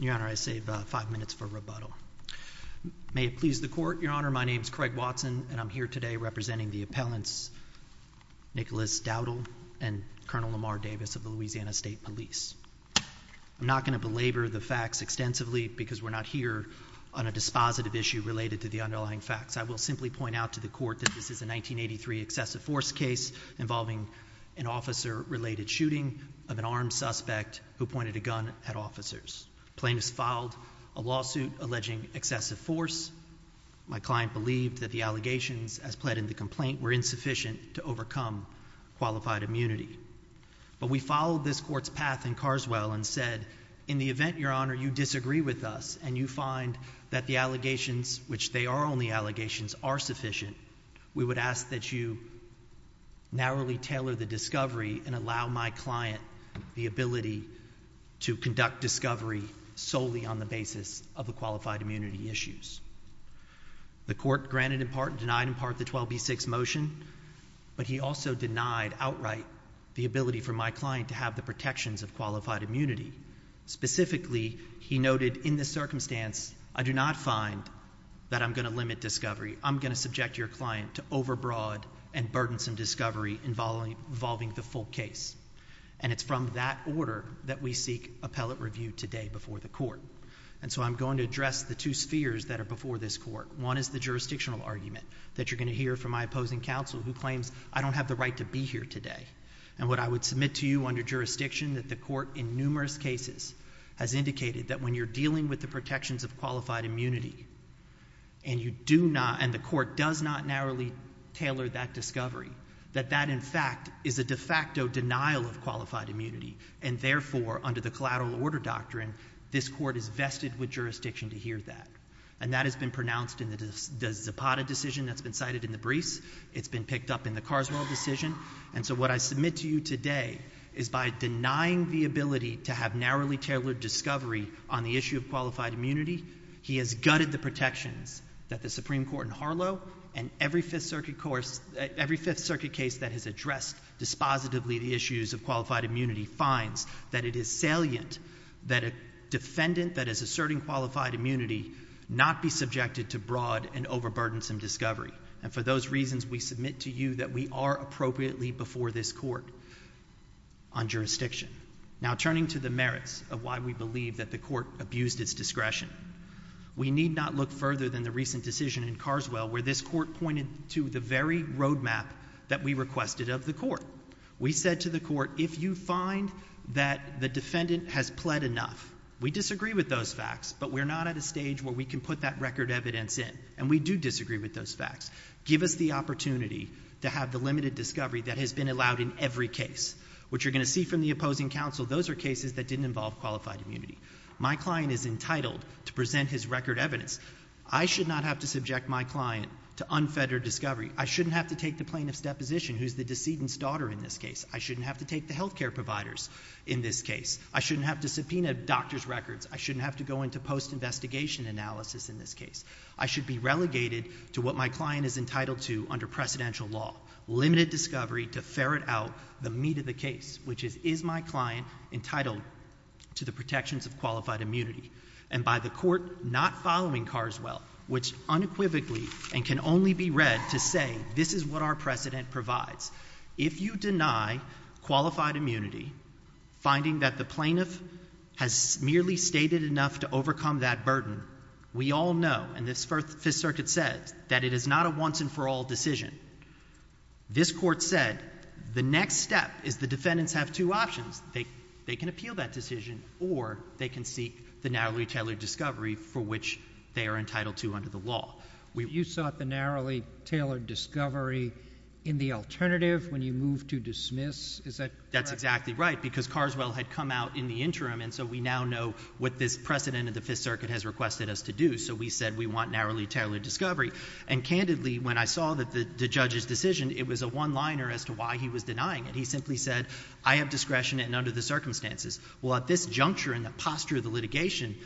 Your Honor, I save five minutes for rebuttal. May it please the Court, Your Honor, my name is Craig Watson and I'm here today representing the appellants Nicholas Dowdle and Colonel Lamar Davis of the Louisiana State Police. I'm not going to belabor the facts extensively because we're not here on a dispositive issue related to the underlying facts. I will simply point out to the Court that this is a 1983 excessive force case involving an officer-related shooting of an armed suspect who pointed a gun at officers. Plaintiffs filed a lawsuit alleging excessive force. My client believed that the allegations as pled in the complaint were insufficient to overcome qualified immunity. But we followed this Court's path in Carswell and said, in the event, Your Honor, you disagree with us and you find that the allegations, which they are only allegations, are sufficient, we would ask that you narrowly tailor the discovery and allow my client the ability to conduct discovery solely on the basis of the qualified immunity issues. The Court granted in part and denied in part the 12b6 motion, but he also denied outright the ability for my client to have the protections of qualified immunity. Specifically, he noted in this circumstance, I do not find that I'm going to limit discovery. I'm going to subject your client to overbroad and burdensome discovery involving the full case. And it's from that order that we seek appellate review today before the Court. And so I'm going to address the two spheres that are before this Court. One is the jurisdictional argument that you're going to hear from my opposing counsel who claims I don't have the right to be here today. And what I would submit to you under jurisdiction that the Court, in numerous cases, has indicated that when you're dealing with the protections of qualified immunity, and you do not, and the Court does not narrowly tailor that discovery, that that, in fact, is a de facto denial of qualified immunity. And therefore, under the collateral order doctrine, this Court is vested with jurisdiction to hear that. And that has been pronounced in the Zapata decision that's been cited in the briefs. It's been picked up in the Carswell decision. And so what I submit to you today is by denying the ability to have narrowly tailored discovery on the issue of qualified immunity, he has gutted the protections that the Supreme Court in Harlow and every Fifth Circuit case that has addressed dispositively the issues of qualified immunity finds that it is salient that a defendant that is asserting qualified immunity not be subjected to broad and overburdensome discovery. And for those reasons, we submit to you that we are appropriately before this Court on jurisdiction. Now, turning to the merits of why we believe that the Court abused its discretion, we need not look further than the recent decision in Carswell where this Court pointed to the very roadmap that we requested of the Court. We said to the Court, if you find that the defendant has pled enough, we disagree with those facts, but we're not at a stage where we can put that record evidence in. And we do disagree with those facts. Give us the opportunity to have the limited discovery that has been allowed in every case. What you're going to see from the opposing counsel, those are cases that didn't involve qualified immunity. My client is entitled to present his record evidence. I should not have to subject my client to unfettered discovery. I shouldn't have to take the plaintiff's deposition, who's the decedent's daughter in this case. I shouldn't have to take the healthcare providers in this case. I shouldn't have to subpoena doctor's records. I shouldn't have to go into post-investigation analysis in this case. I should be relegated to what my client is entitled to under precedential law, limited discovery to ferret out the meat of the case, which is, is my client entitled to the protections of qualified immunity? And by the Court not following Carswell, which unequivocally and can only be read to say this is what our precedent provides. If you deny qualified immunity, finding that the plaintiff has merely stated enough to and this Fifth Circuit says that it is not a once and for all decision, this Court said the next step is the defendants have two options. They can appeal that decision or they can seek the narrowly tailored discovery for which they are entitled to under the law. You sought the narrowly tailored discovery in the alternative when you moved to dismiss? Is that correct? That's exactly right because Carswell had come out in the interim and so we now know what this precedent of the Fifth Circuit has requested us to do. So we said we want narrowly tailored discovery. And candidly, when I saw the judge's decision, it was a one liner as to why he was denying it. He simply said I have discretion and under the circumstances. Well, at this juncture in the posture of the litigation,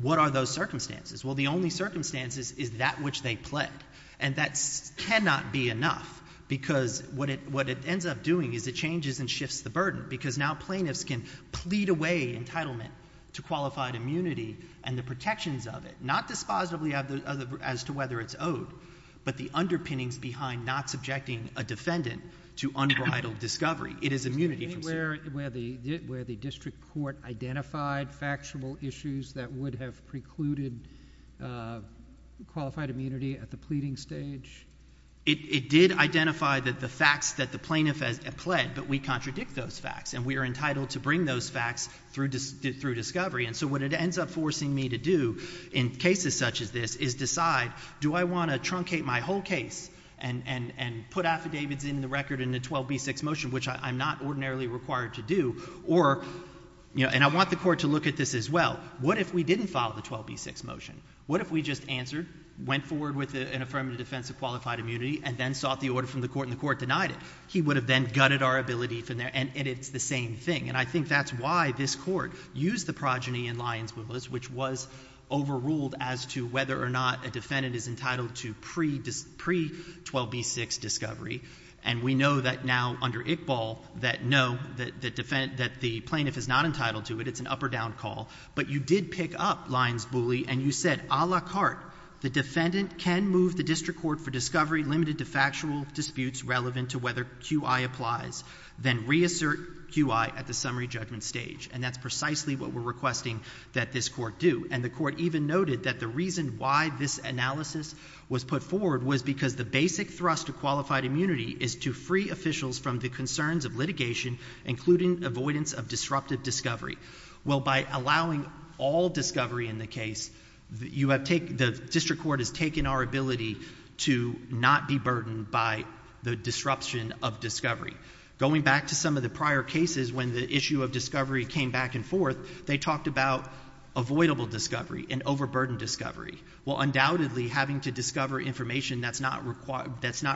what are those circumstances? Well, the only circumstances is that which they pled. And that cannot be enough because what it ends up doing is it changes and shifts the burden because now plaintiffs can plead away entitlement to qualified immunity and the other as to whether it's owed, but the underpinnings behind not subjecting a defendant to unbridled discovery. It is immunity. Is there anywhere where the district court identified factual issues that would have precluded qualified immunity at the pleading stage? It did identify that the facts that the plaintiff has pled, but we contradict those facts and we are entitled to bring those facts through discovery. So what it ends up forcing me to do in cases such as this is decide do I want to truncate my whole case and put affidavits in the record in the 12B6 motion, which I'm not ordinarily required to do, and I want the court to look at this as well. What if we didn't follow the 12B6 motion? What if we just answered, went forward with an affirmative defense of qualified immunity and then sought the order from the court and the court denied it? He would have then gutted our ability and it's the same thing. And I think that's why this court used the progeny in Lyons-Booley, which was overruled as to whether or not a defendant is entitled to pre-12B6 discovery. And we know that now under Iqbal that no, that the plaintiff is not entitled to it. It's an up or down call. But you did pick up Lyons-Booley and you said a la carte, the defendant can move the district court for discovery limited to factual disputes relevant to whether QI applies, then reassert QI at the summary judgment stage. And that's precisely what we're requesting that this court do. And the court even noted that the reason why this analysis was put forward was because the basic thrust of qualified immunity is to free officials from the concerns of litigation, including avoidance of disruptive discovery. Well, by allowing all discovery in the case, you have taken, the district court has taken our ability to not be burdened by the disruption of discovery. Going back to some of the prior cases when the issue of discovery came back and forth, they talked about avoidable discovery and overburdened discovery. Well, undoubtedly having to discover information that's not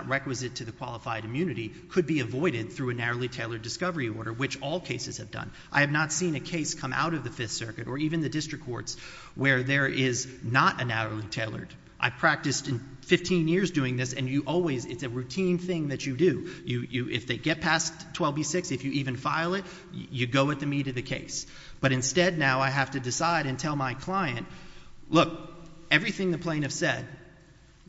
requisite to the qualified immunity could be avoided through a narrowly tailored discovery order, which all cases have done. I have not seen a case come out of the Fifth Circuit or even the district courts where there is not a narrowly tailored. I practiced in 15 years doing this and you always, it's a routine thing that you do. If they get past 12B6, if you even file it, you go at the meat of the case. But instead now I have to decide and tell my client, look, everything the plaintiff said,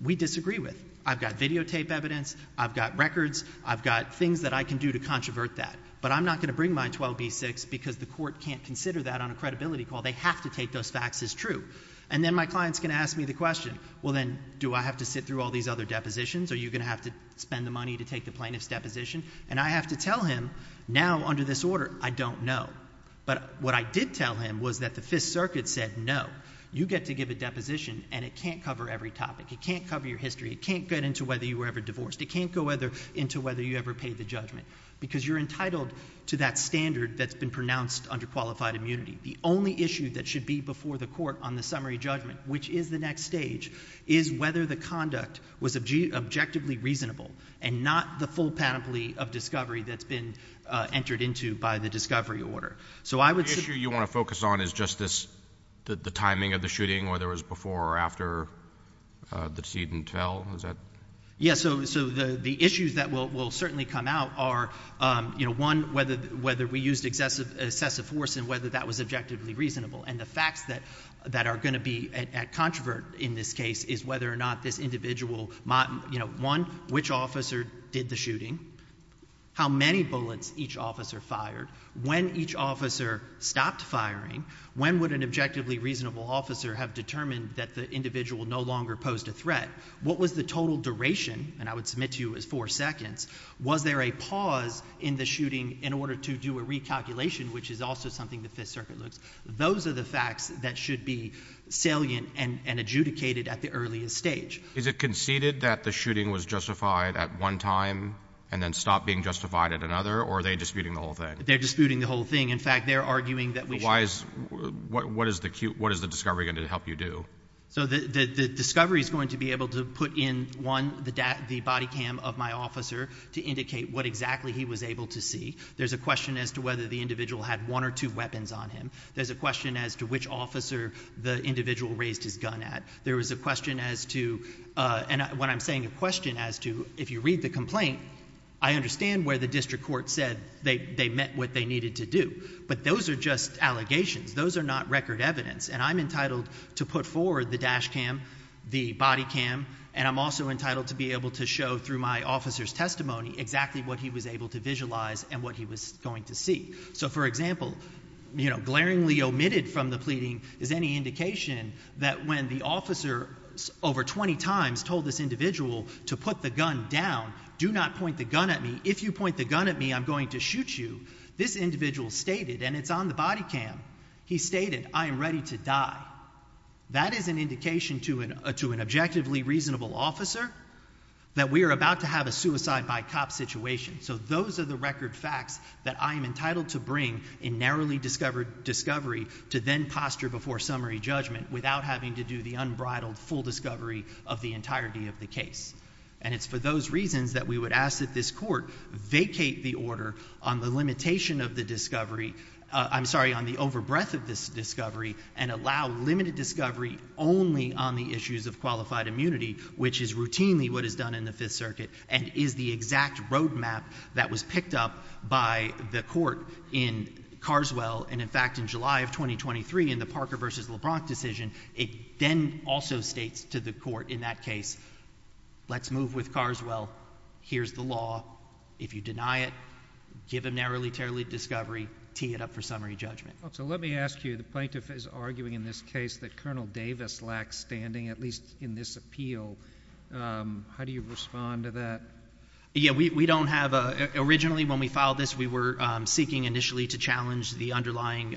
we disagree with. I've got videotape evidence, I've got records, I've got things that I can do to controvert that. But I'm not going to bring my 12B6 because the court can't consider that on a credibility call. They have to take those facts as true. And then my client's going to ask me the question, well then, do I have to sit through all these other depositions? Are you going to have to spend the money to take the plaintiff's deposition? And I have to tell him, now under this order, I don't know. But what I did tell him was that the Fifth Circuit said no. You get to give a deposition and it can't cover every topic. It can't cover your history. It can't get into whether you were ever divorced. It can't go into whether you ever paid the judgment. Because you're entitled to that standard that's been pronounced under qualified immunity. The only issue that should be before the court on the summary judgment, which is the next stage, is whether the conduct was objectively reasonable and not the full panoply of discovery that's been entered into by the discovery order. So I would say- The issue you want to focus on is just this, the timing of the shooting, whether it was before or after the decedent fell, is that? Yeah, so the issues that will certainly come out are, one, whether we used excessive force and whether that was objectively reasonable. And the facts that are going to be a controvert in this case is whether or not this individual, one, which officer did the shooting? How many bullets each officer fired? When each officer stopped firing? When would an objectively reasonable officer have determined that the individual no longer posed a threat? What was the total duration, and I would submit to you as four seconds, was there a pause in the shooting in order to do a recalculation, which is also something the Fifth Circuit looks. Those are the facts that should be salient and adjudicated at the earliest stage. Is it conceded that the shooting was justified at one time and then stopped being justified at another, or are they disputing the whole thing? They're disputing the whole thing. In fact, they're arguing that we should- Why is, what is the discovery going to help you do? So the discovery is going to be able to put in, one, the body cam of my officer to indicate what exactly he was able to see. There's a question as to whether the individual had one or two weapons on him. There's a question as to which officer the individual raised his gun at. There was a question as to, and when I'm saying a question as to, if you read the complaint, I understand where the district court said they met what they needed to do. But those are just allegations, those are not record evidence. And I'm entitled to put forward the dash cam, the body cam, and I'm also entitled to be able to show through my officer's testimony exactly what he was able to visualize. And what he was going to see. So for example, glaringly omitted from the pleading is any indication that when the officer over 20 times told this individual to put the gun down, do not point the gun at me. If you point the gun at me, I'm going to shoot you. This individual stated, and it's on the body cam, he stated, I am ready to die. That is an indication to an objectively reasonable officer that we are about to have a suicide by cop situation. So those are the record facts that I am entitled to bring in narrowly discovered discovery to then posture before summary judgment. Without having to do the unbridled full discovery of the entirety of the case. And it's for those reasons that we would ask that this court vacate the order on the limitation of the discovery. I'm sorry, on the over breadth of this discovery and allow limited discovery only on the issues of qualified immunity. Which is routinely what is done in the Fifth Circuit and is the exact road map that was picked up by the court in Carswell. And in fact, in July of 2023 in the Parker versus LeBron decision, it then also states to the court in that case. Let's move with Carswell. Here's the law. If you deny it, give a narrowly, terribly discovery, tee it up for summary judgment. So let me ask you, the plaintiff is arguing in this case that Colonel Davis lacks standing, at least in this appeal. How do you respond to that? Yeah, we don't have, originally when we filed this, we were seeking initially to challenge the underlying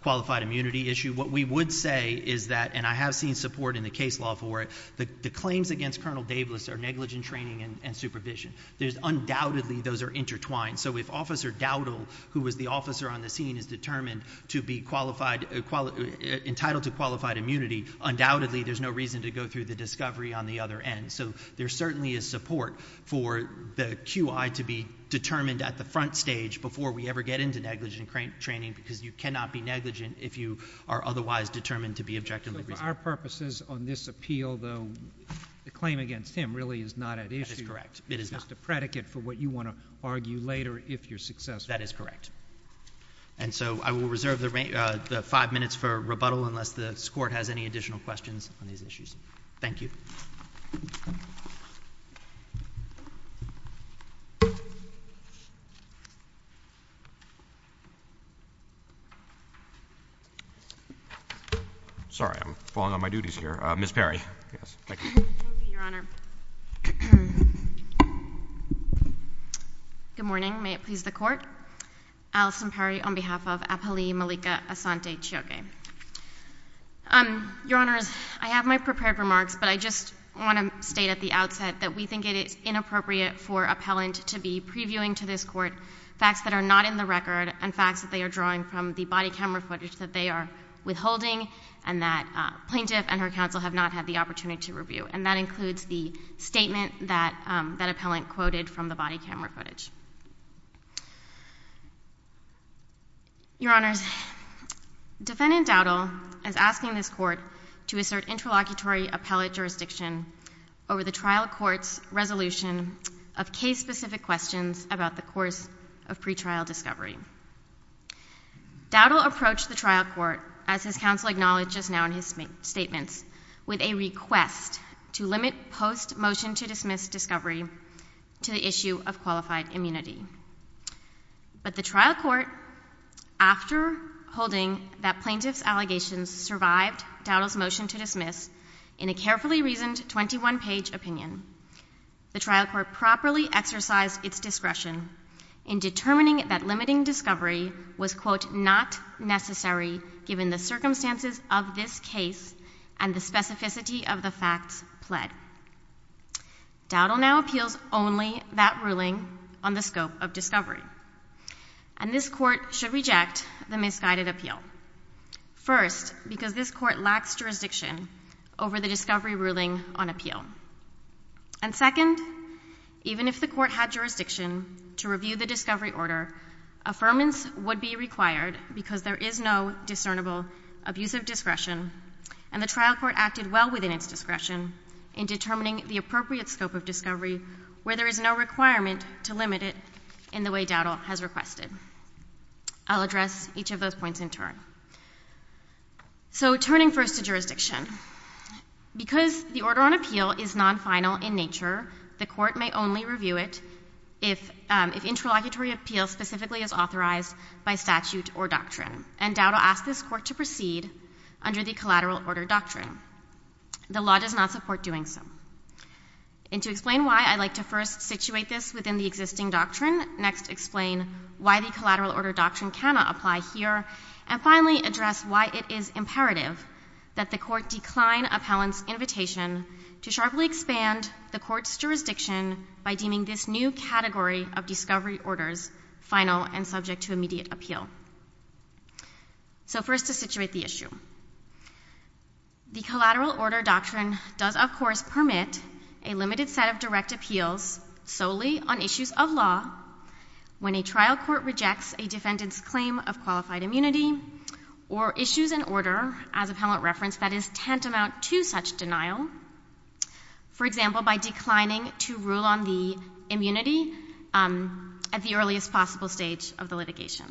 qualified immunity issue. What we would say is that, and I have seen support in the case law for it, the claims against Colonel Davis are negligent training and supervision. There's undoubtedly, those are intertwined. So if Officer Dowdle, who was the officer on the scene, is determined to be entitled to qualified immunity, undoubtedly there's no reason to go through the discovery on the other end. So there certainly is support for the QI to be determined at the front stage before we ever get into negligent training. Because you cannot be negligent if you are otherwise determined to be objectively responsible. For our purposes on this appeal though, the claim against him really is not at issue. That is correct. It is not. It's just a predicate for what you want to do if you're successful. That is correct. And so I will reserve the five minutes for rebuttal unless this court has any additional questions on these issues. Thank you. Sorry, I'm falling on my duties here. Ms. Perry, yes, thank you. Thank you, Your Honor. Good morning, may it please the court. Allison Perry on behalf of Abhali Malika Asante-Chioke. Your Honors, I have my prepared remarks, but I just want to state at the outset that we think it is inappropriate for appellant to be previewing to this court facts that are not in the record and facts that they are drawing from the body camera footage that they are withholding. And that plaintiff and her counsel have not had the opportunity to review. And that includes the statement that that appellant quoted from the body camera footage. Your Honors, Defendant Dowdell is asking this court to assert interlocutory appellate jurisdiction over the trial court's resolution of case specific questions about the course of pretrial discovery. Dowdell approached the trial court, as his counsel acknowledged just now in his statements, with a request to limit post-motion to dismiss discovery to the issue of qualified immunity. But the trial court, after holding that plaintiff's allegations survived Dowdell's motion to dismiss in a carefully reasoned 21 page opinion. The trial court properly exercised its discretion in determining that limiting discovery was, quote, necessary given the circumstances of this case and the specificity of the facts pled. Dowdell now appeals only that ruling on the scope of discovery. And this court should reject the misguided appeal. First, because this court lacks jurisdiction over the discovery ruling on appeal. And second, even if the court had jurisdiction to review the discovery order, affirmance would be required because there is no discernible abuse of discretion. And the trial court acted well within its discretion in determining the appropriate scope of discovery where there is no requirement to limit it in the way Dowdell has requested. I'll address each of those points in turn. So turning first to jurisdiction, because the order on appeal is non-final in nature, the court may only review it if interlocutory appeal specifically is authorized by statute or doctrine. And Dowdell asked this court to proceed under the collateral order doctrine. The law does not support doing so. And to explain why, I'd like to first situate this within the existing doctrine, next explain why the collateral order doctrine cannot apply here, and finally address why it is imperative that the court decline appellant's invitation to sharply expand the court's jurisdiction by deeming this new category of discovery orders final and subject to immediate appeal. So first to situate the issue. The collateral order doctrine does of course permit a limited set of direct appeals solely on issues of law. When a trial court rejects a defendant's claim of qualified immunity or issues an order, as appellant referenced, that is tantamount to such denial. For example, by declining to rule on the immunity at the earliest possible stage of the litigation.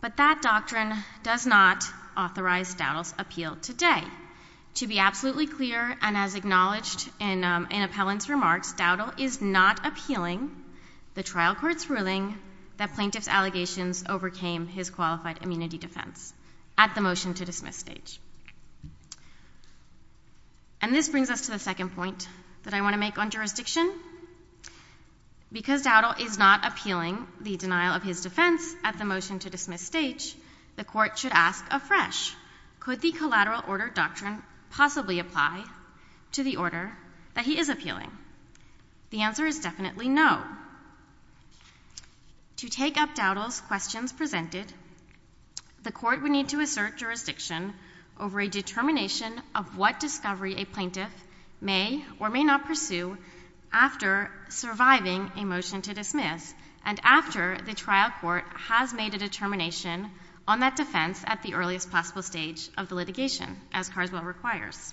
But that doctrine does not authorize Dowdell's appeal today. To be absolutely clear, and as acknowledged in appellant's remarks, Dowdell is not appealing the trial court's ruling that plaintiff's allegations overcame his qualified immunity defense at the motion to dismiss stage. And this brings us to the second point that I want to make on jurisdiction. Because Dowdell is not appealing the denial of his defense at the motion to dismiss stage, the court should ask afresh, could the collateral order doctrine possibly apply to the order that he is appealing? The answer is definitely no. To take up Dowdell's questions presented, the court would need to assert jurisdiction over a determination of what discovery a plaintiff may or may not pursue after surviving a motion to dismiss. And after the trial court has made a determination on that defense at the earliest possible stage of the litigation, as Carswell requires.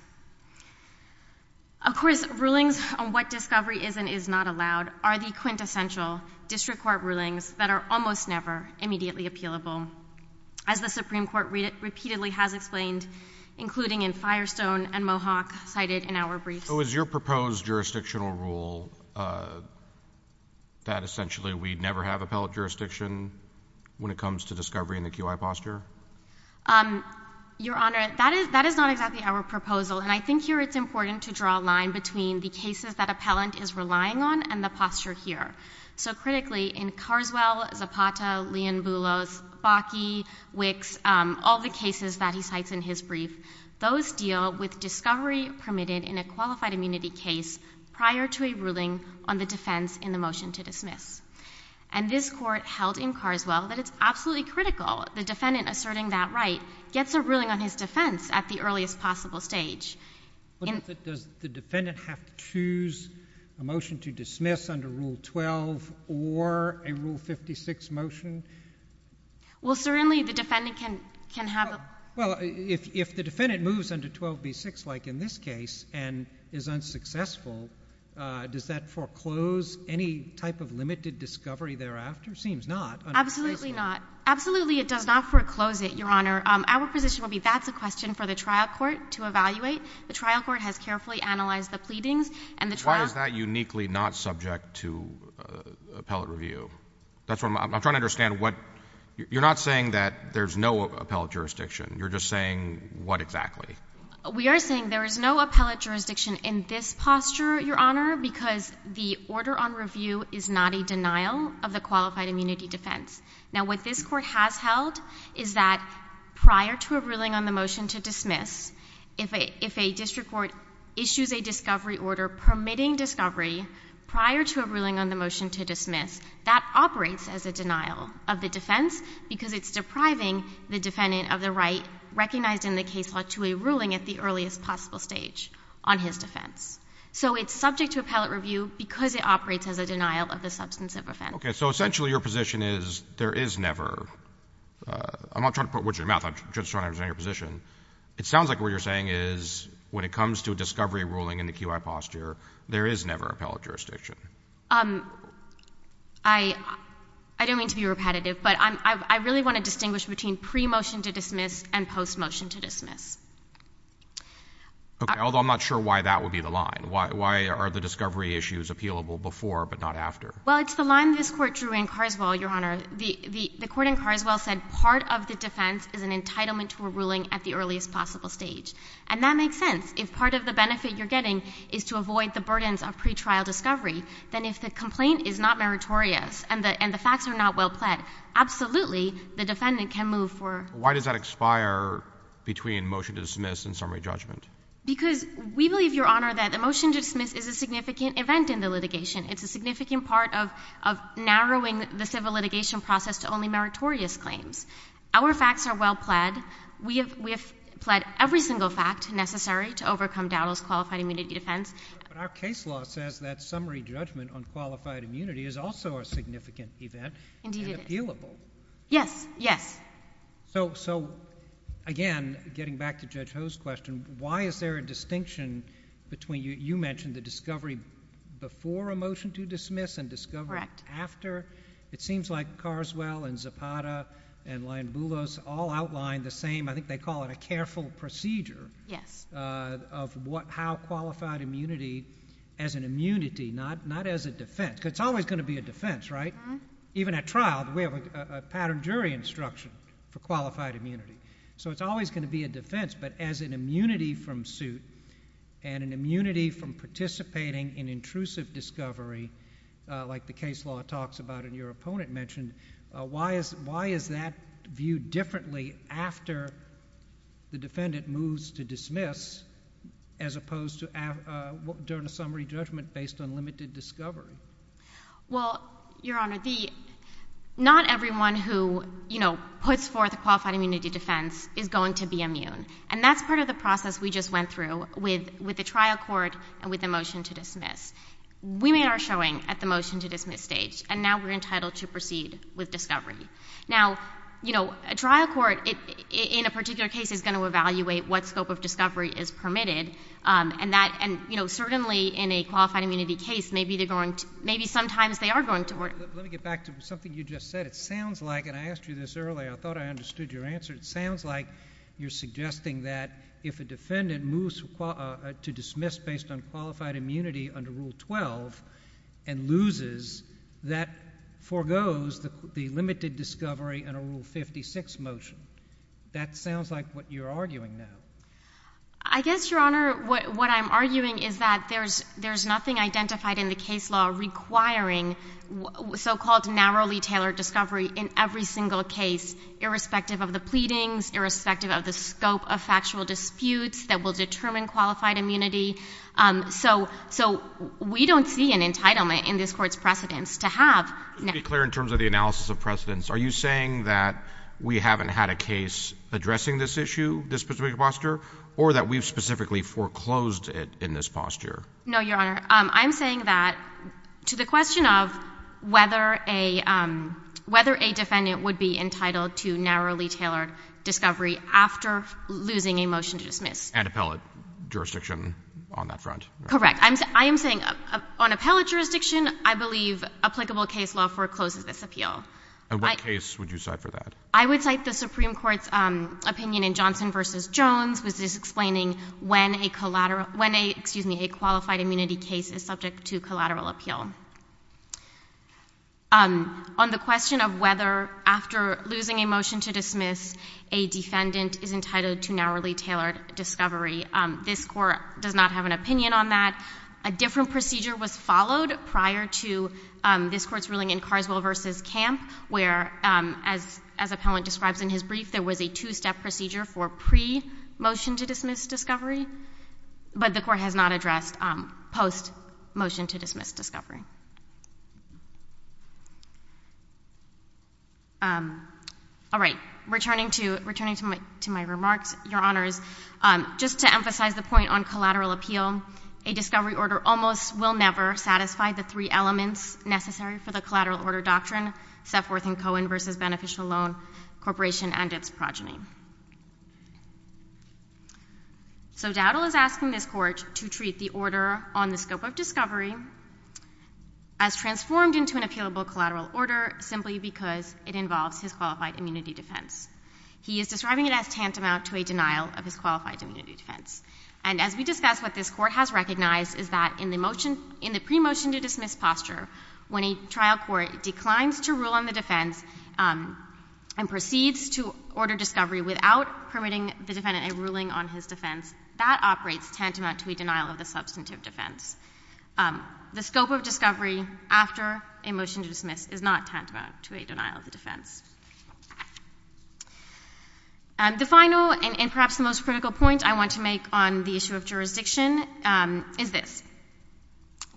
Of course, rulings on what discovery is and is not allowed are the quintessential district court rulings that are almost never immediately appealable. As the Supreme Court repeatedly has explained, including in Firestone and Mohawk cited in our briefs. So is your proposed jurisdictional rule that essentially we'd never have appellate jurisdiction when it comes to discovery in the QI posture? Your Honor, that is not exactly our proposal. And I think here it's important to draw a line between the cases that appellant is relying on and the posture here. So critically, in Carswell, Zapata, Leonbulos, Bakke, Wicks, all the cases that he cites in his brief, those deal with discovery permitted in a qualified immunity case prior to a ruling on the defense in the motion to dismiss. And this court held in Carswell that it's absolutely critical the defendant asserting that right gets a ruling on his defense at the earliest possible stage. But does the defendant have to choose a motion to dismiss under Rule 12 or a Rule 56 motion? Well, certainly the defendant can have. Well, if the defendant moves under 12B6, like in this case, and is unsuccessful, does that foreclose any type of limited discovery thereafter? Seems not. Absolutely not. Absolutely it does not foreclose it, Your Honor. Our position will be that's a question for the trial court to evaluate. The trial court has carefully analyzed the pleadings, and the trial- Why is that uniquely not subject to appellate review? That's what I'm, I'm trying to understand what, you're not saying that there's no appellate jurisdiction. You're just saying, what exactly? We are saying there is no appellate jurisdiction in this posture, Your Honor, because the order on review is not a denial of the qualified immunity defense. Now what this court has held is that prior to a ruling on the motion to dismiss, if a district court issues a discovery order permitting discovery prior to a ruling on the motion to dismiss, that operates as a denial of the defense because it's depriving the defendant of the right recognized in the case law to a ruling at the earliest possible stage on his defense. So it's subject to appellate review because it operates as a denial of the substantive offense. Okay, so essentially your position is there is never, I'm not trying to put words in your mouth, I'm just trying to understand your position. It sounds like what you're saying is, when it comes to discovery ruling in the QI posture, there is never appellate jurisdiction. I don't mean to be repetitive, but I really want to distinguish between pre-motion to dismiss and post-motion to dismiss. Okay, although I'm not sure why that would be the line. Why are the discovery issues appealable before but not after? Well, it's the line this court drew in Carswell, Your Honor. The court in Carswell said part of the defense is an entitlement to a ruling at the earliest possible stage. And that makes sense. If part of the benefit you're getting is to avoid the burdens of pre-trial discovery, then if the complaint is not meritorious and the facts are not well-pled, absolutely the defendant can move for- Why does that expire between motion to dismiss and summary judgment? Because we believe, Your Honor, that a motion to dismiss is a significant event in the litigation. It's a significant part of narrowing the civil litigation process to only meritorious claims. Our facts are well-pled. We have pled every single fact necessary to overcome Dowdell's qualified immunity defense. But our case law says that summary judgment on qualified immunity is also a significant event. Indeed it is. And appealable. Yes, yes. So again, getting back to Judge Ho's question, why is there a distinction between, you mentioned the discovery before a motion to dismiss and discovery after. It seems like Carswell and Zapata and Lyon-Boulos all outlined the same, I think they call it a careful procedure. Yes. Of how qualified immunity, as an immunity, not as a defense, because it's always going to be a defense, right? Even at trial, we have a pattern jury instruction for qualified immunity. So it's always going to be a defense, but as an immunity from suit, and an immunity from participating in intrusive discovery, like the case law talks about and your opponent mentioned, why is that viewed differently after the defendant moves to dismiss, as opposed to during a summary judgment based on limited discovery? Well, Your Honor, not everyone who puts forth a qualified immunity defense is going to be immune. And that's part of the process we just went through with the trial court and with the motion to dismiss. We are showing at the motion to dismiss stage, and now we're entitled to proceed with discovery. Now, a trial court, in a particular case, is going to evaluate what scope of discovery is permitted. And certainly in a qualified immunity case, maybe sometimes they are going to work. Let me get back to something you just said. It sounds like, and I asked you this earlier, I thought I understood your answer. It sounds like you're suggesting that if a defendant moves to dismiss based on qualified immunity under Rule 12, and loses, that forgoes the limited discovery under Rule 56 motion. That sounds like what you're arguing now. I guess, Your Honor, what I'm arguing is that there's nothing identified in the case law requiring so-called narrowly tailored discovery in every single case, irrespective of the pleadings, irrespective of the scope of factual disputes that will determine qualified immunity. So we don't see an entitlement in this court's precedence to have- Let's be clear in terms of the analysis of precedence. Are you saying that we haven't had a case addressing this issue, this particular posture, or that we've specifically foreclosed it in this posture? No, Your Honor. I'm saying that to the question of whether a defendant would be entitled to narrowly tailored discovery after losing a motion to dismiss. And appellate jurisdiction on that front. Correct. I am saying on appellate jurisdiction, I believe applicable case law forecloses this appeal. And what case would you cite for that? I would cite the Supreme Court's opinion in Johnson v. Jones, which is explaining when a qualified immunity case is subject to collateral appeal. On the question of whether, after losing a motion to dismiss, a defendant is entitled to narrowly tailored discovery, this court does not have an opinion on that. A different procedure was followed prior to this court's ruling in Carswell v. Camp, where, as appellant describes in his brief, there was a two-step procedure for pre-motion-to-dismiss discovery. But the court has not addressed post-motion-to-dismiss discovery. All right, returning to my remarks, Your Honors, just to emphasize the point on collateral appeal. A discovery order almost will never satisfy the three elements necessary for the collateral order doctrine, Sefworth and Cohen v. Beneficial Loan Corporation and its progeny. So Dowdell is asking this court to treat the order on the scope of discovery as transformed into an appealable collateral order simply because it involves his qualified immunity defense. He is describing it as tantamount to a denial of his qualified immunity defense. And as we discussed, what this court has recognized is that in the pre-motion-to-dismiss posture, when a trial court declines to rule on the defense and proceeds to order discovery without permitting the defendant a ruling on his defense, that operates tantamount to a denial of the substantive defense. The scope of discovery after a motion to dismiss is not tantamount to a denial of the defense. The final and perhaps the most critical point I want to make on the issue of jurisdiction is this.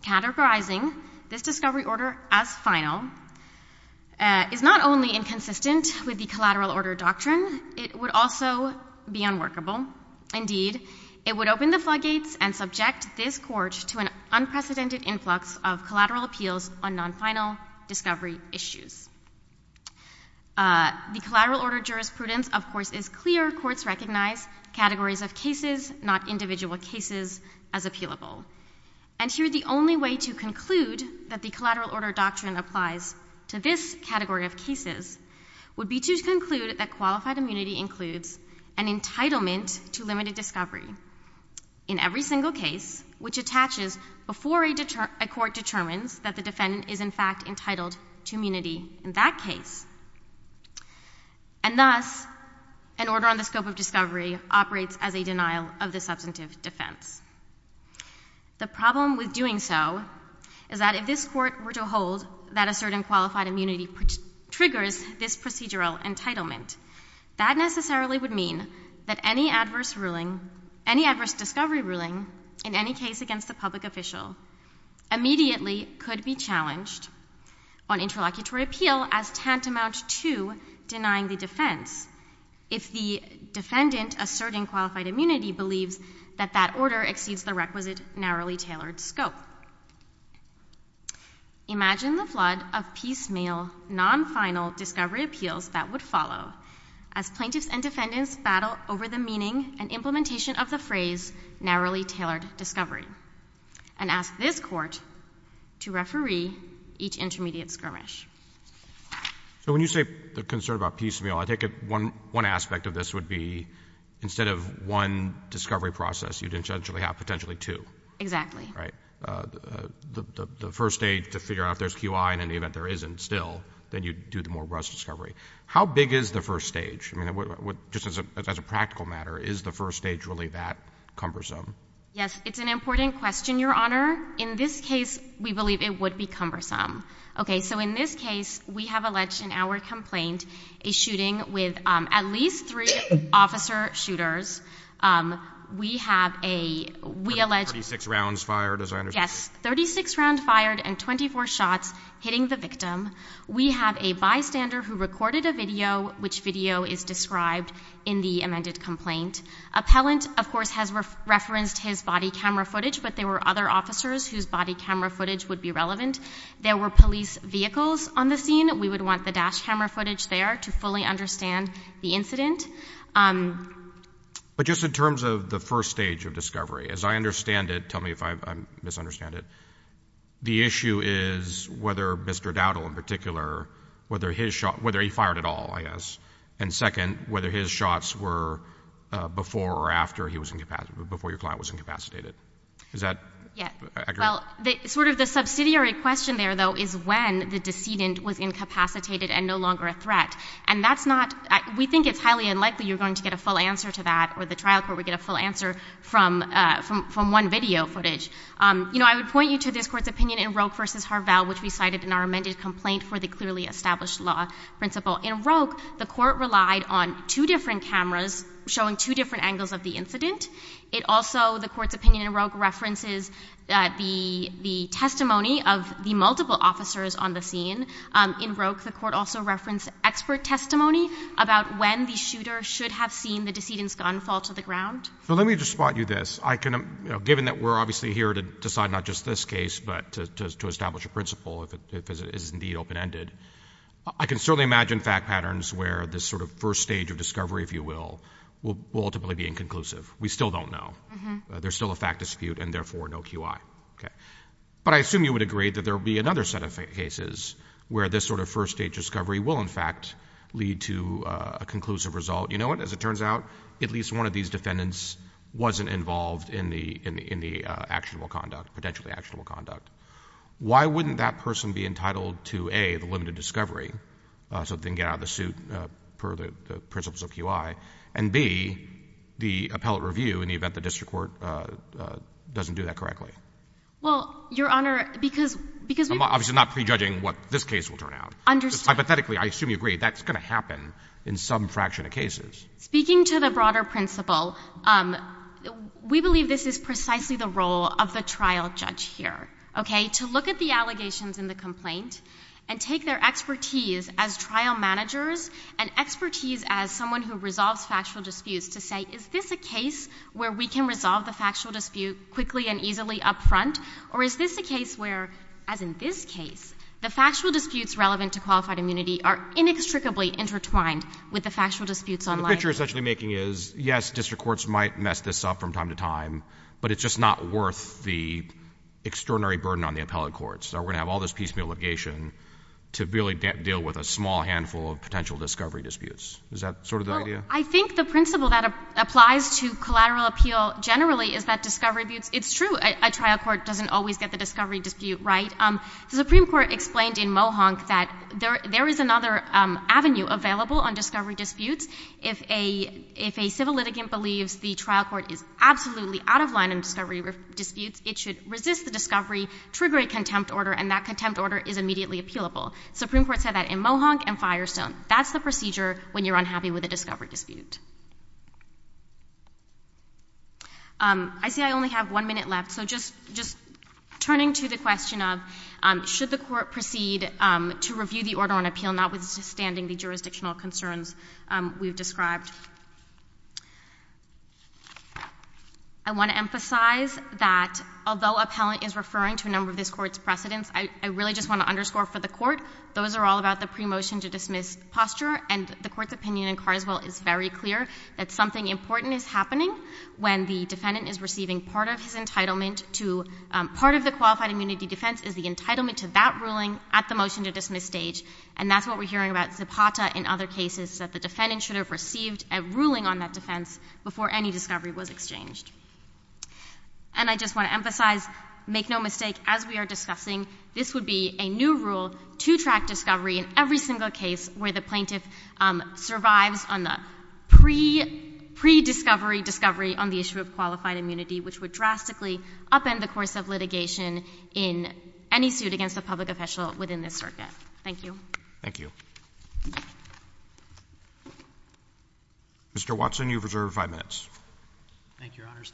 Categorizing this discovery order as final is not only inconsistent with the collateral order doctrine, it would also be unworkable. Indeed, it would open the floodgates and subject this court to an unprecedented influx of collateral appeals on non-final discovery issues. The collateral order jurisprudence, of course, is clear. Courts recognize categories of cases, not individual cases, as appealable. And here the only way to conclude that the collateral order doctrine applies to this category of cases would be to conclude that qualified immunity includes an entitlement to limited discovery. In every single case, which attaches before a court determines that the defendant is in fact entitled to immunity in that case. And thus, an order on the scope of discovery operates as a denial of the substantive defense. The problem with doing so is that if this court were to hold that a certain qualified immunity triggers this procedural entitlement. That necessarily would mean that any adverse discovery ruling in any case against the public official immediately could be challenged on interlocutory appeal as tantamount to denying the defense. If the defendant asserting qualified immunity believes that that order exceeds the requisite narrowly tailored scope. Imagine the flood of piecemeal non-final discovery appeals that would follow. As plaintiffs and defendants battle over the meaning and implementation of the phrase narrowly tailored discovery. And ask this court to referee each intermediate skirmish. So when you say the concern about piecemeal, I take it one aspect of this would be instead of one discovery process, you'd potentially have two. Exactly. Right. The first stage to figure out if there's QI, and in the event there isn't still, then you'd do the more robust discovery. How big is the first stage? Just as a practical matter, is the first stage really that cumbersome? Yes, it's an important question, Your Honor. In this case, we believe it would be cumbersome. Okay, so in this case, we have alleged in our complaint a shooting with at least three officer shooters. We have a... 36 rounds fired, as I understand. Yes, 36 rounds fired and 24 shots hitting the victim. We have a bystander who recorded a video, which video is described in the amended complaint. Appellant, of course, has referenced his body camera footage, but there were other officers whose body camera footage would be relevant. There were police vehicles on the scene. We would want the dash camera footage there to fully understand the incident. But just in terms of the first stage of discovery, as I understand it, tell me if I misunderstand it, the issue is whether Mr. Dowdle in particular, whether his shot, whether he fired at all, I guess, and second, whether his shots were before or after he was incapacitated, before your client was incapacitated. Is that accurate? Well, sort of the subsidiary question there, though, is when the decedent was incapacitated and no longer a threat. And that's not, we think it's highly unlikely you're going to get a full answer to that, or the trial court would get a full answer from one video footage. You know, I would point you to this court's opinion in Roque v. Harvall, which we cited in our amended complaint for the clearly established law principle. In Roque, the court relied on two different cameras showing two different angles of the incident. It also, the court's opinion in Roque references the testimony of the multiple officers on the scene. In Roque, the court also referenced expert testimony about when the shooter should have seen the decedent's gun fall to the ground. So let me just spot you this. Given that we're obviously here to decide not just this case, but to establish a principle if it is indeed open-ended, I can certainly imagine fact patterns where this sort of first stage of discovery, if you will, will ultimately be inconclusive. We still don't know. There's still a fact dispute and, therefore, no QI. But I assume you would agree that there would be another set of cases where this sort of first stage discovery will, in fact, lead to a conclusive result. You know what? As it turns out, at least one of these defendants wasn't involved in the actionable conduct, potentially actionable conduct. Why wouldn't that person be entitled to, A, the limited discovery so they can get out of the suit per the principles of QI, and, B, the appellate review in the event the district court doesn't do that correctly? Well, Your Honor, because we — I'm obviously not prejudging what this case will turn out. Understood. Hypothetically, I assume you agree that's going to happen in some fraction of cases. Speaking to the broader principle, we believe this is precisely the role of the trial judge here, okay, to look at the allegations in the complaint and take their expertise as trial managers and expertise as someone who resolves factual disputes to say, is this a case where we can resolve the factual dispute quickly and easily up front, or is this a case where, as in this case, the factual disputes relevant to qualified immunity are inextricably intertwined with the factual disputes online? The picture you're essentially making is, yes, district courts might mess this up from time to time, but it's just not worth the extraordinary burden on the appellate courts. We're going to have all this piecemeal litigation to really deal with a small handful of potential discovery disputes. Is that sort of the idea? Well, I think the principle that applies to collateral appeal generally is that discovery disputes — it's true a trial court doesn't always get the discovery dispute right. The Supreme Court explained in Mohonk that there is another avenue available on discovery disputes. If a civil litigant believes the trial court is absolutely out of line on discovery disputes, it should resist the discovery, trigger a contempt order, and that contempt order is immediately appealable. The Supreme Court said that in Mohonk and Firestone. That's the procedure when you're unhappy with a discovery dispute. I see I only have one minute left, so just turning to the question of, should the court proceed to review the order on appeal notwithstanding the jurisdictional concerns we've described? I want to emphasize that although appellant is referring to a number of this Court's precedents, I really just want to underscore for the Court, those are all about the pre-motion-to-dismiss posture, and the Court's opinion in Carswell is very clear that something important is happening when the defendant is receiving part of his entitlement to — part of the qualified immunity defense is the entitlement to that ruling at the motion-to-dismiss stage, and that's what we're hearing about Zipata in other cases, that the defendant should have received a ruling on that defense before any discovery was exchanged. And I just want to emphasize, make no mistake, as we are discussing, this would be a new rule to track discovery in every single case where the plaintiff survives on the pre-discovery discovery on the issue of qualified immunity, which would drastically upend the course of litigation in any suit against a public official within this circuit. Thank you. Thank you. Mr. Watson, you have reserved five minutes. Thank you, Your Honors.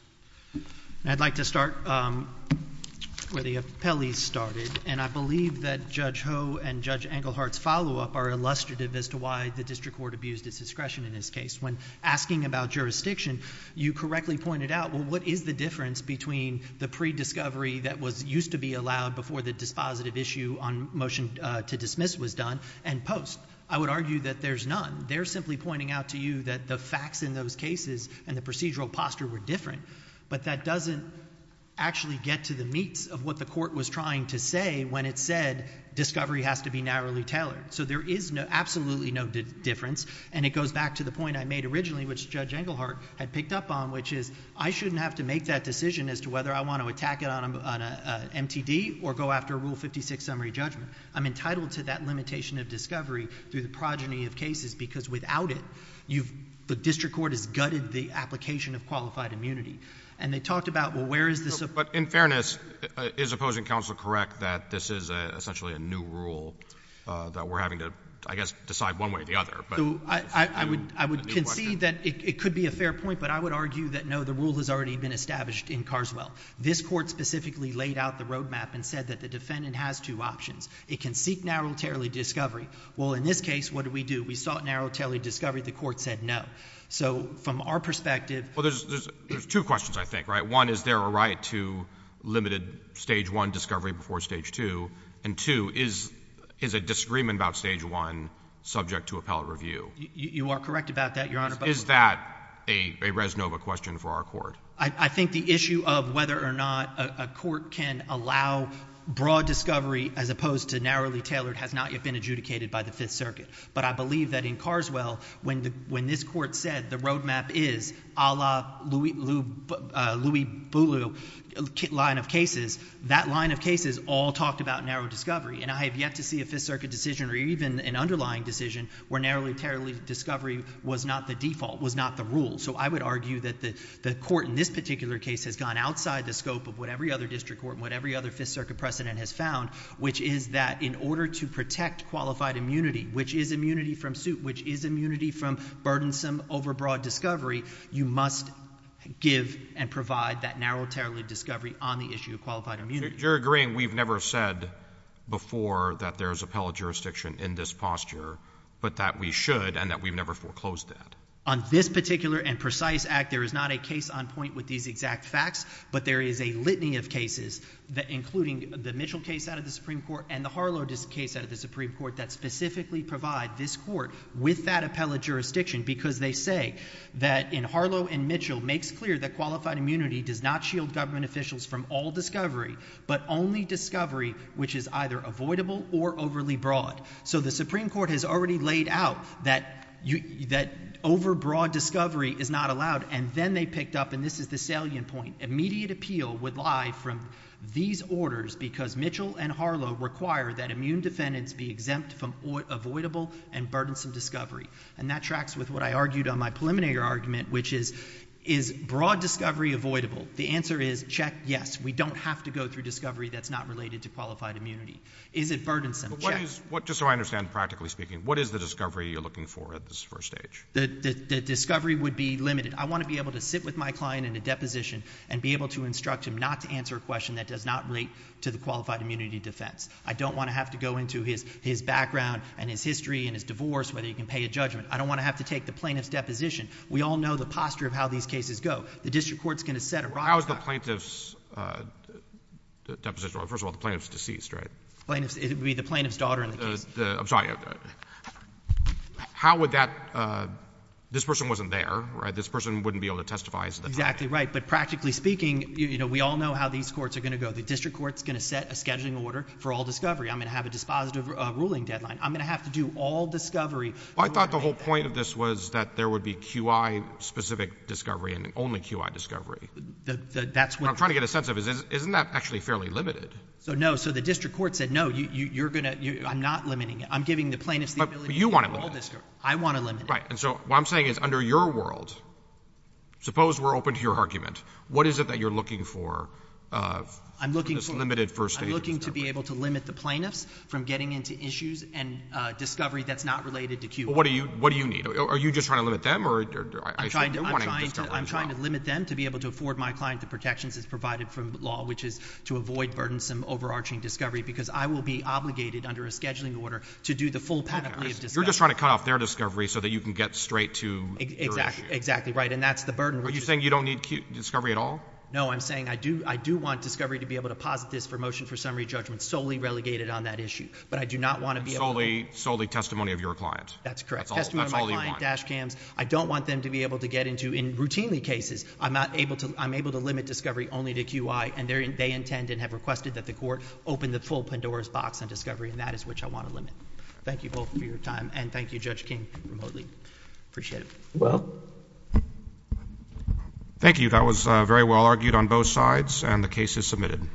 I'd like to start where the appellees started, and I believe that Judge Ho and Judge Englehart's follow-up are illustrative as to why the district court abused its discretion in this case. When asking about jurisdiction, you correctly pointed out, well, what is the difference between the pre-discovery that used to be allowed before the dispositive issue on motion-to-dismiss was done and post? I would argue that there's none. They're simply pointing out to you that the facts in those cases and the procedural posture were different, but that doesn't actually get to the meats of what the court was trying to say when it said discovery has to be narrowly tailored. So there is absolutely no difference, and it goes back to the point I made originally, which Judge Englehart had picked up on, which is I shouldn't have to make that decision as to whether I want to attack it on an MTD or go after a Rule 56 summary judgment. I'm entitled to that limitation of discovery through the progeny of cases because without it, the district court has gutted the application of qualified immunity. And they talked about, well, where is the... But in fairness, is opposing counsel correct that this is essentially a new rule that we're having to, I guess, decide one way or the other? I would concede that it could be a fair point, but I would argue that no, the rule has already been established in Carswell. This court specifically laid out the roadmap and said that the defendant has two options. It can seek narrowly tailored discovery. Well, in this case, what do we do? We sought narrowly tailored discovery. The court said no. So from our perspective... Well, there's two questions, I think, right? One, is there a right to limited Stage 1 discovery before Stage 2? And two, is a disagreement about Stage 1 subject to appellate review? You are correct about that, Your Honor, but... Is that a res nova question for our court? I think the issue of whether or not a court can allow broad discovery as opposed to narrowly tailored has not yet been adjudicated by the Fifth Circuit. But I believe that in Carswell, when this court said the roadmap is a la Louis Boulleau line of cases, that line of cases all talked about narrow discovery. And I have yet to see a Fifth Circuit decision or even an underlying decision where narrowly tailored discovery was not the default, was not the rule. So I would argue that the court in this particular case has gone outside the scope of what every other district court and what every other Fifth Circuit precedent has found, which is that in order to protect qualified immunity, which is immunity from suit, which is immunity from burdensome overbroad discovery, you must give and provide that narrow tailored discovery on the issue of qualified immunity. So you're agreeing we've never said before that there's appellate jurisdiction in this posture, but that we should and that we've never foreclosed that? On this particular and precise act, there is not a case on point with these exact facts, but there is a litany of cases, including the Mitchell case out of the Supreme Court and the Harlow case out of the Supreme Court, that specifically provide this court with that appellate jurisdiction because they say that in Harlow and Mitchell, makes clear that qualified immunity does not shield government officials from all discovery, but only discovery which is either avoidable or overly broad. So the Supreme Court has already laid out that overbroad discovery is not allowed, and then they picked up, and this is the salient point, immediate appeal would lie from these orders because Mitchell and Harlow require that immune defendants be exempt from avoidable and burdensome discovery. And that tracks with what I argued on my preliminary argument, which is, is broad discovery avoidable? The answer is, check, yes. We don't have to go through discovery that's not related to qualified immunity. Is it burdensome? Check. Just so I understand practically speaking, what is the discovery you're looking for at this first stage? The discovery would be limited. I want to be able to sit with my client in a deposition and be able to instruct him not to answer a question that does not relate to the qualified immunity defense. I don't want to have to go into his background and his history and his divorce, whether he can pay a judgment. I don't want to have to take the plaintiff's deposition. We all know the posture of how these cases go. The district court's going to set a rock- How is the plaintiff's deposition? First of all, the plaintiff's deceased, right? It would be the plaintiff's daughter in the case. I'm sorry. How would that—this person wasn't there, right? This person wouldn't be able to testify. Exactly right. But practically speaking, you know, we all know how these courts are going to go. The district court's going to set a scheduling order for all discovery. I'm going to have a dispositive ruling deadline. I'm going to have to do all discovery. I thought the whole point of this was that there would be QI-specific discovery and only QI discovery. That's what— What I'm trying to get a sense of is isn't that actually fairly limited? No. So the district court said, no, you're going to—I'm not limiting it. I'm giving the plaintiffs the ability to do all discovery. But you want to limit it. I want to limit it. Right. And so what I'm saying is under your world, suppose we're open to your argument, what is it that you're looking for in this limited first stage of discovery? I would be able to limit the plaintiffs from getting into issues and discovery that's not related to QI. What do you need? Are you just trying to limit them? I'm trying to limit them to be able to afford my client the protections as provided from law, which is to avoid burdensome, overarching discovery, because I will be obligated under a scheduling order to do the full panoply of discovery. You're just trying to cut off their discovery so that you can get straight to your issue. Exactly right. And that's the burden— Are you saying you don't need discovery at all? No. I'm saying I do want discovery to be able to posit this for motion for summary judgment solely relegated on that issue. But I do not want to be able to— Solely testimony of your client. That's correct. That's all you want. Testimony of my client, dash cams. I don't want them to be able to get into—in routinely cases, I'm able to limit discovery only to QI, and they intend and have requested that the court open the full Pandora's box on discovery, and that is which I want to limit. Thank you both for your time, and thank you, Judge King, remotely. Appreciate it. Well, thank you. That was very well argued on both sides, and the case is submitted.